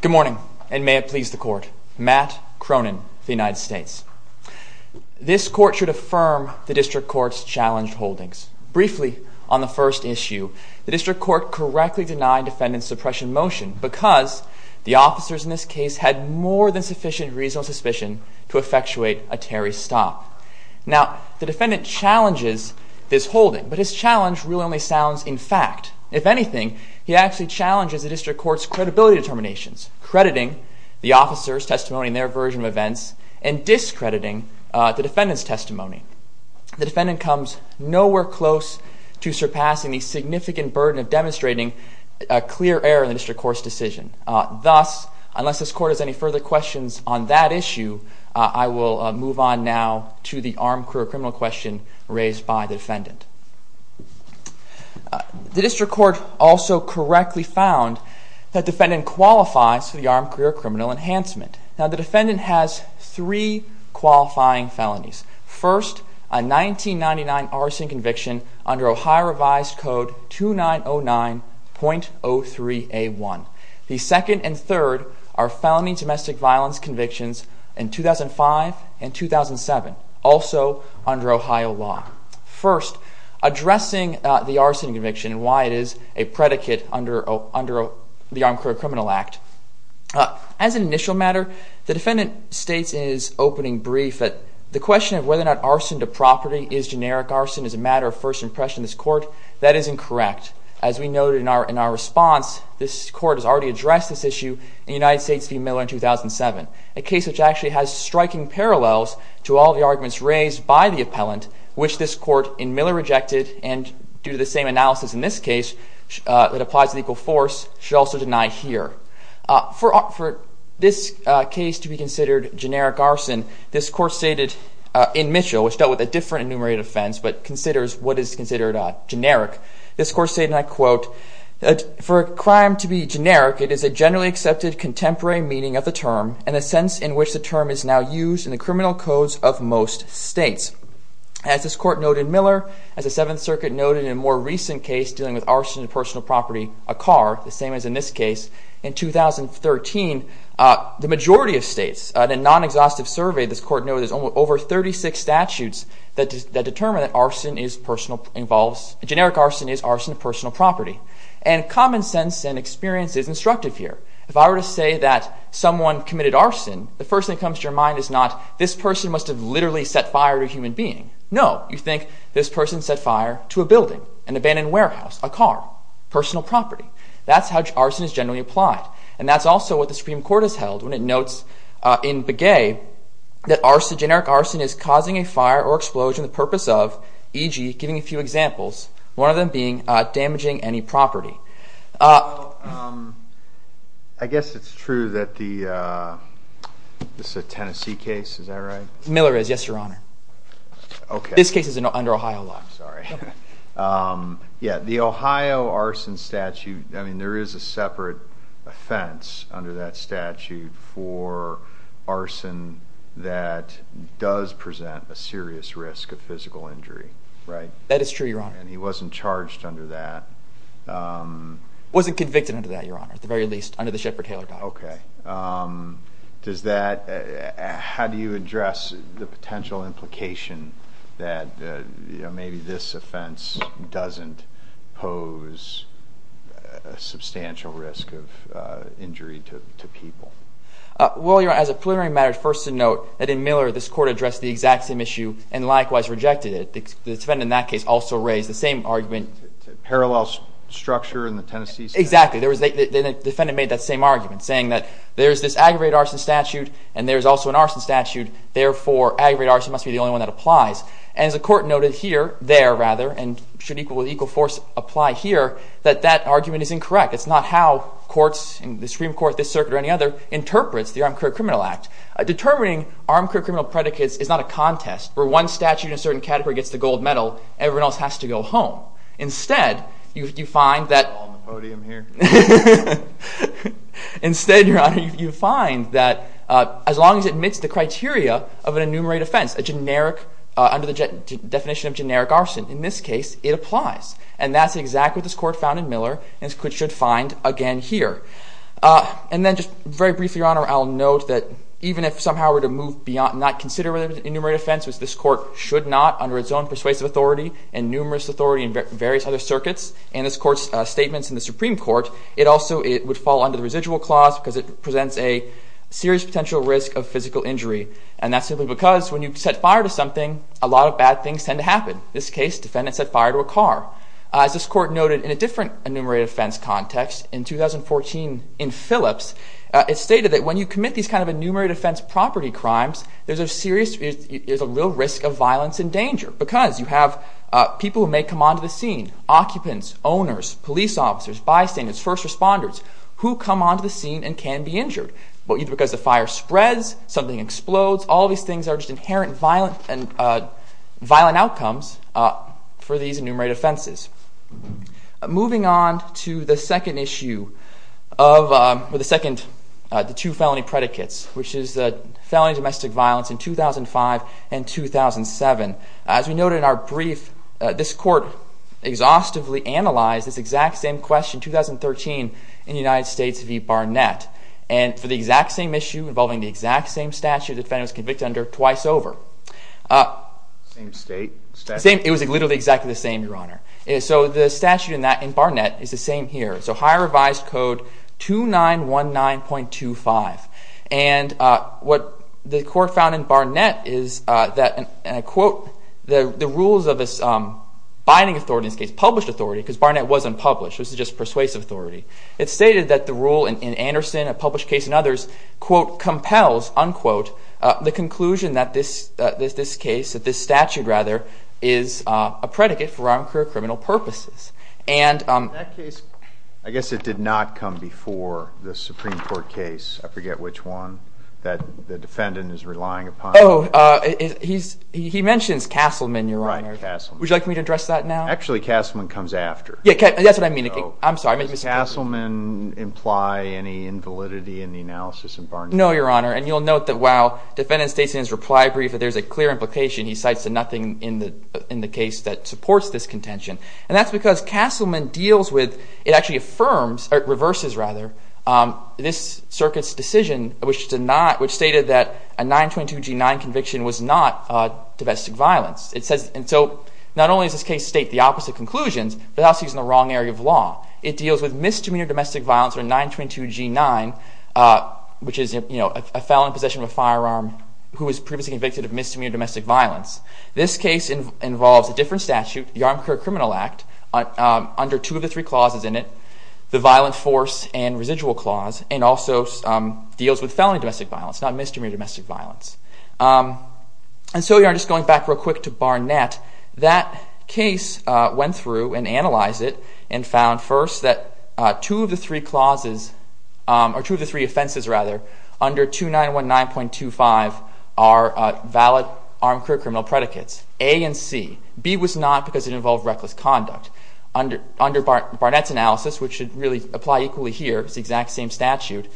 Good morning, and may it please the court. Matt Cronin of the United States. This court should affirm the district court's challenged holdings. Briefly, on the first issue, the district court correctly denied defendant's suppression motion because the officers in this case had more than sufficient reasonable suspicion to effectuate a Terry stop. Now, the defendant challenges this holding, but his challenge really only sounds in fact. If anything, he actually challenges the district court's credibility determinations, crediting the officer's testimony in their version of events and discrediting the defendant's testimony. The defendant comes nowhere close to surpassing the significant burden of demonstrating a clear error in the district court's decision. Thus, unless this court has any further questions on that issue, I will move on now to the armed career criminal question raised by the defendant. The district court also correctly found that defendant qualifies for the armed career criminal enhancement. Now, the defendant has three qualifying felonies. First, a 1999 arson conviction under Ohio revised code 2909.03A1. The second and third are felony domestic violence convictions in 2005 and 2007, also under Ohio law. First, addressing the arson conviction and why it is a predicate under the Armed Career Criminal Act. As an initial matter, the defendant states in his opening brief that the question of whether or not arson to property is generic arson is a matter of first impression in this court. That is incorrect. As we noted in our response, this court has already addressed this issue in United States v. Miller in 2007, a case which actually has striking parallels to all the arguments raised by the appellant, which this court in Miller rejected. And due to the same analysis in this case that applies to legal force, should also deny here. For this case to be considered generic arson, this court stated in Mitchell, which dealt with a different enumerated offense, but considers what is considered generic. This court stated, and I quote, for a crime to be generic, it is a generally accepted contemporary meaning of the term and a sense in which the term is now used in the criminal codes of most states. As this court noted in Miller, as the Seventh Circuit noted in a more recent case dealing with arson to personal property, a car, the same as in this case, in 2013, the majority of states, in a non-exhaustive survey, this court noted there's over 36 statutes that determine that generic arson is arson to personal property. And common sense and experience is instructive here. If I were to say that someone committed arson, the first thing that comes to your mind is not, this person must have literally set fire to a human being. No, you think this person set fire to a building, an abandoned warehouse, a car, personal property. That's how arson is generally applied. And that's also what the Supreme Court has held when it notes in Begay that generic arson is causing a fire or explosion the purpose of, e.g., giving a few examples, one of them being damaging any property. Well, I guess it's true that the Tennessee case, is that right? Miller is, yes, Your Honor. This case is under Ohio law. I'm sorry. Yeah, the Ohio arson statute, I mean, there is a separate offense under that statute for arson that does present a serious risk of physical injury, right? That is true, Your Honor. And he wasn't charged under that. Wasn't convicted under that, Your Honor, at the very least, under the Shepard-Taylor Act. OK. Does that, how do you address the potential implication that maybe this offense doesn't pose a substantial risk of injury to people? Well, Your Honor, as a preliminary matter, first to note that in Miller, this court addressed the exact same issue and likewise rejected it. The defendant in that case also raised the same argument. Parallel structure in the Tennessee statute? Exactly. The defendant made that same argument, saying that there is this aggravated arson statute and there is also an arson statute. Therefore, aggravated arson must be the only one that applies. And as the court noted here, there rather, and should equal force apply here, that that argument is incorrect. It's not how courts, the Supreme Court, this circuit, or any other, interprets the Armed Career Criminal Act. Determining armed career criminal predicates is not a contest, where one statute in a certain category gets the gold medal. Everyone else has to go home. Instead, you find that. All on the podium here. Instead, Your Honor, you find that as long as it meets the criteria of an enumerated offense, under the definition of generic arson, in this case, it applies. And that's exactly what this court found in Miller and should find again here. And then just very briefly, Your Honor, I'll note that even if somehow we're to move beyond not considering an enumerated offense, which this court should not under its own persuasive authority and numerous authority in various other circuits, and this court's statements in the Supreme Court, it also would fall under the residual clause because it presents a serious potential risk of physical injury. And that's simply because when you set fire to something, a lot of bad things tend to happen. This case, defendant set fire to a car. As this court noted in a different enumerated offense context, in 2014 in Phillips, it stated that when you commit these kind of enumerated offense property crimes, there's a real risk of violence and danger because you have people who may come onto the scene, occupants, owners, police officers, bystanders, first responders, who come onto the scene and can be injured, either because the fire spreads, something explodes. All these things are just inherent violent outcomes for these enumerated offenses. Moving on to the second issue of the two felony predicates, which is felony domestic violence in 2005 and 2007. As we noted in our brief, this court exhaustively analyzed this exact same question, 2013 in the United States v. Barnett. And for the exact same issue involving the exact same statute, the defendant was convicted under twice over. Same state, statute? It was literally exactly the same, Your Honor. So the statute in Barnett is the same here. So higher revised code 2919.25. And what the court found in Barnett is that, and I quote, the rules of this binding authority, in this case, published authority, because Barnett wasn't published. It was just persuasive authority. It stated that the rule in Anderson, a published case and others, quote, compels, unquote, the conclusion that this case, that this statute, rather, is a predicate for unclear criminal purposes. And that case, I guess it did not come before the Supreme Court case. I forget which one that the defendant is relying upon. Oh, he mentions Castleman, Your Honor. Right, Castleman. Would you like me to address that now? Actually, Castleman comes after. Yeah, that's what I mean. I'm sorry, I made a mistake. Does Castleman imply any invalidity in the analysis in Barnett? No, Your Honor. And you'll note that while the defendant states in his reply brief that there's a clear implication, he cites nothing in the case that supports this contention. And that's because Castleman deals with, it actually affirms, or it reverses, rather, this circuit's decision, which stated that a 922g9 conviction was not domestic violence. And so not only does this case state the opposite conclusions, but also he's in the wrong area of law. It deals with misdemeanor domestic violence or 922g9, which is a felon in possession of a firearm who was previously convicted of misdemeanor domestic violence. This case involves a different statute, the Armed Career Criminal Act, under two of the three clauses in it, the violent force and residual clause, and also deals with felony domestic violence, not misdemeanor domestic violence. And so, Your Honor, just going back real quick to Barnett, that case went through and analyzed it and found, first, that two of the three offenses under 2919.25 are valid armed career criminal predicates, A and C. B was not because it involved reckless conduct. Under Barnett's analysis, which should really apply equally here, it's the exact same statute,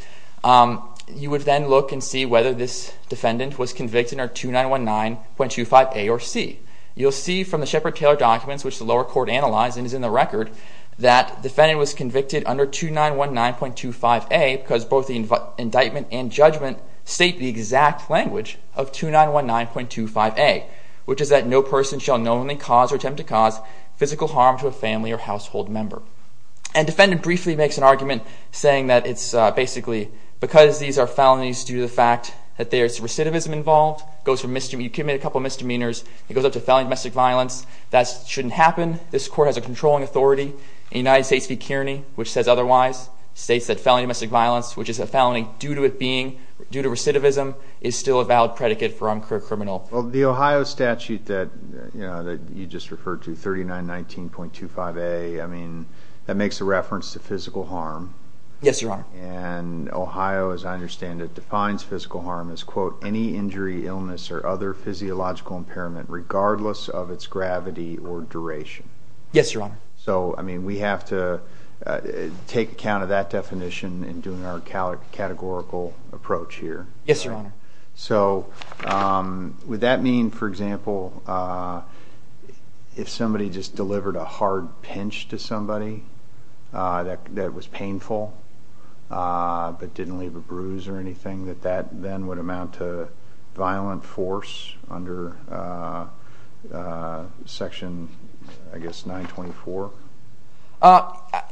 you would then look and see whether this defendant was convicted under 2919.25A or C. You'll see from the Shepard-Taylor documents, which the lower court analyzed and is in the record, that the defendant was convicted under 2919.25A because both the indictment and judgment state the exact language of 2919.25A, which is that no person shall knowingly cause or attempt to cause physical harm to a family or household member. And defendant briefly makes an argument saying that it's basically because these are felonies due to the fact that there's recidivism involved, you commit a couple misdemeanors, it goes up to felony domestic violence. That shouldn't happen. This court has a controlling authority. The United States v. Kearney, which says otherwise, states that felony domestic violence, which is a felony due to it being due to recidivism, is still a valid predicate for armed career criminal. Well, the Ohio statute that you just referred to, 3919.25A, I mean, that makes a reference to physical harm. Yes, Your Honor. And Ohio, as I understand it, defines physical harm as, quote, any injury, illness, or other physiological impairment regardless of its gravity or duration. Yes, Your Honor. So I mean, we have to take account of that definition in doing our categorical approach here. Yes, Your Honor. So would that mean, for example, if somebody just delivered a hard pinch to somebody that was painful but didn't leave a bruise or anything, that that then would amount to violent force under section, I guess, 924?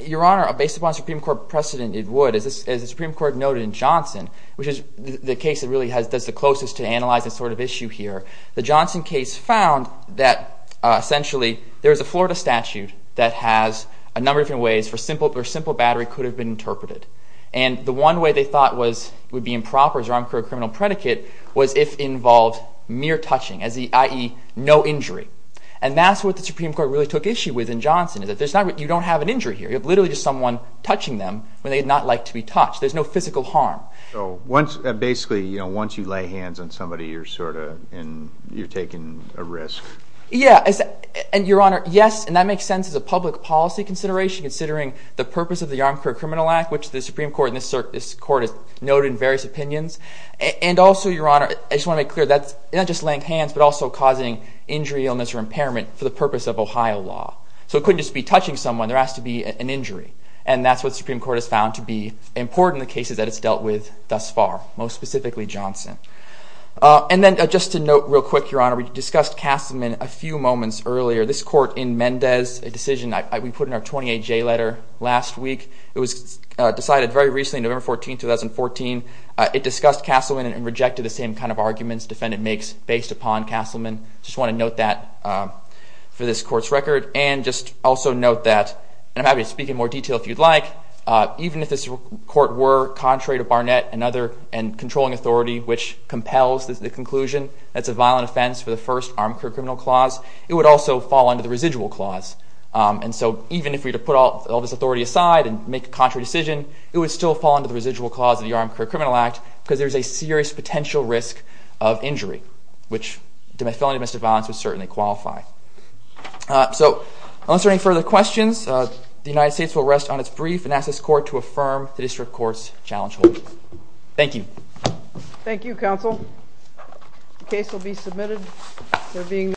Your Honor, based upon Supreme Court precedent, it would. As the Supreme Court noted in Johnson, which is the case that really does the closest to analyze this sort of issue here, the Johnson case found that, essentially, there is a Florida statute that has a number of different ways where simple battery could have been interpreted. And the one way they thought would be improper as an armed career criminal predicate was if it involved mere touching, i.e. no injury. And that's what the Supreme Court really took issue with in Johnson, is that you don't have an injury here. You have literally just someone touching them when they'd not like to be touched. There's no physical harm. So basically, once you lay hands on somebody, you're sort of taking a risk. Yeah. And, Your Honor, yes. And that makes sense as a public policy consideration, considering the purpose of the Armed Career Criminal Act, which the Supreme Court and this court has noted in various opinions. And also, Your Honor, I just want to make clear that's not just laying hands, but also causing injury, illness, or impairment for the purpose of Ohio law. So it couldn't just be touching someone. There has to be an injury. And that's what the Supreme Court has found to be important in the cases that it's dealt with thus far, most specifically Johnson. And then just to note real quick, Your Honor, we discussed Castleman a few moments earlier. This court in Mendez, a decision we put in our 28-J letter last week, it was decided very recently, November 14, 2014. It discussed Castleman and rejected the same kind of arguments defendant makes based upon Castleman. Just want to note that for this court's record. And just also note that, and I'm happy to speak in more detail if you'd like, even if this court were contrary to Barnett and controlling authority, which compels the conclusion that it's a violent offense for the first armed career criminal clause, it would also fall under the residual clause. And so even if we were to put all this authority aside and make a contrary decision, it would still fall under the residual clause of the Armed Career Criminal Act, because there's a serious potential risk of injury, which felon domestic violence would certainly qualify. So unless there are any further questions, the United States will rest on its brief and ask this court to affirm the district court's challenge holdings. Thank you. Thank you, counsel. The case will be submitted.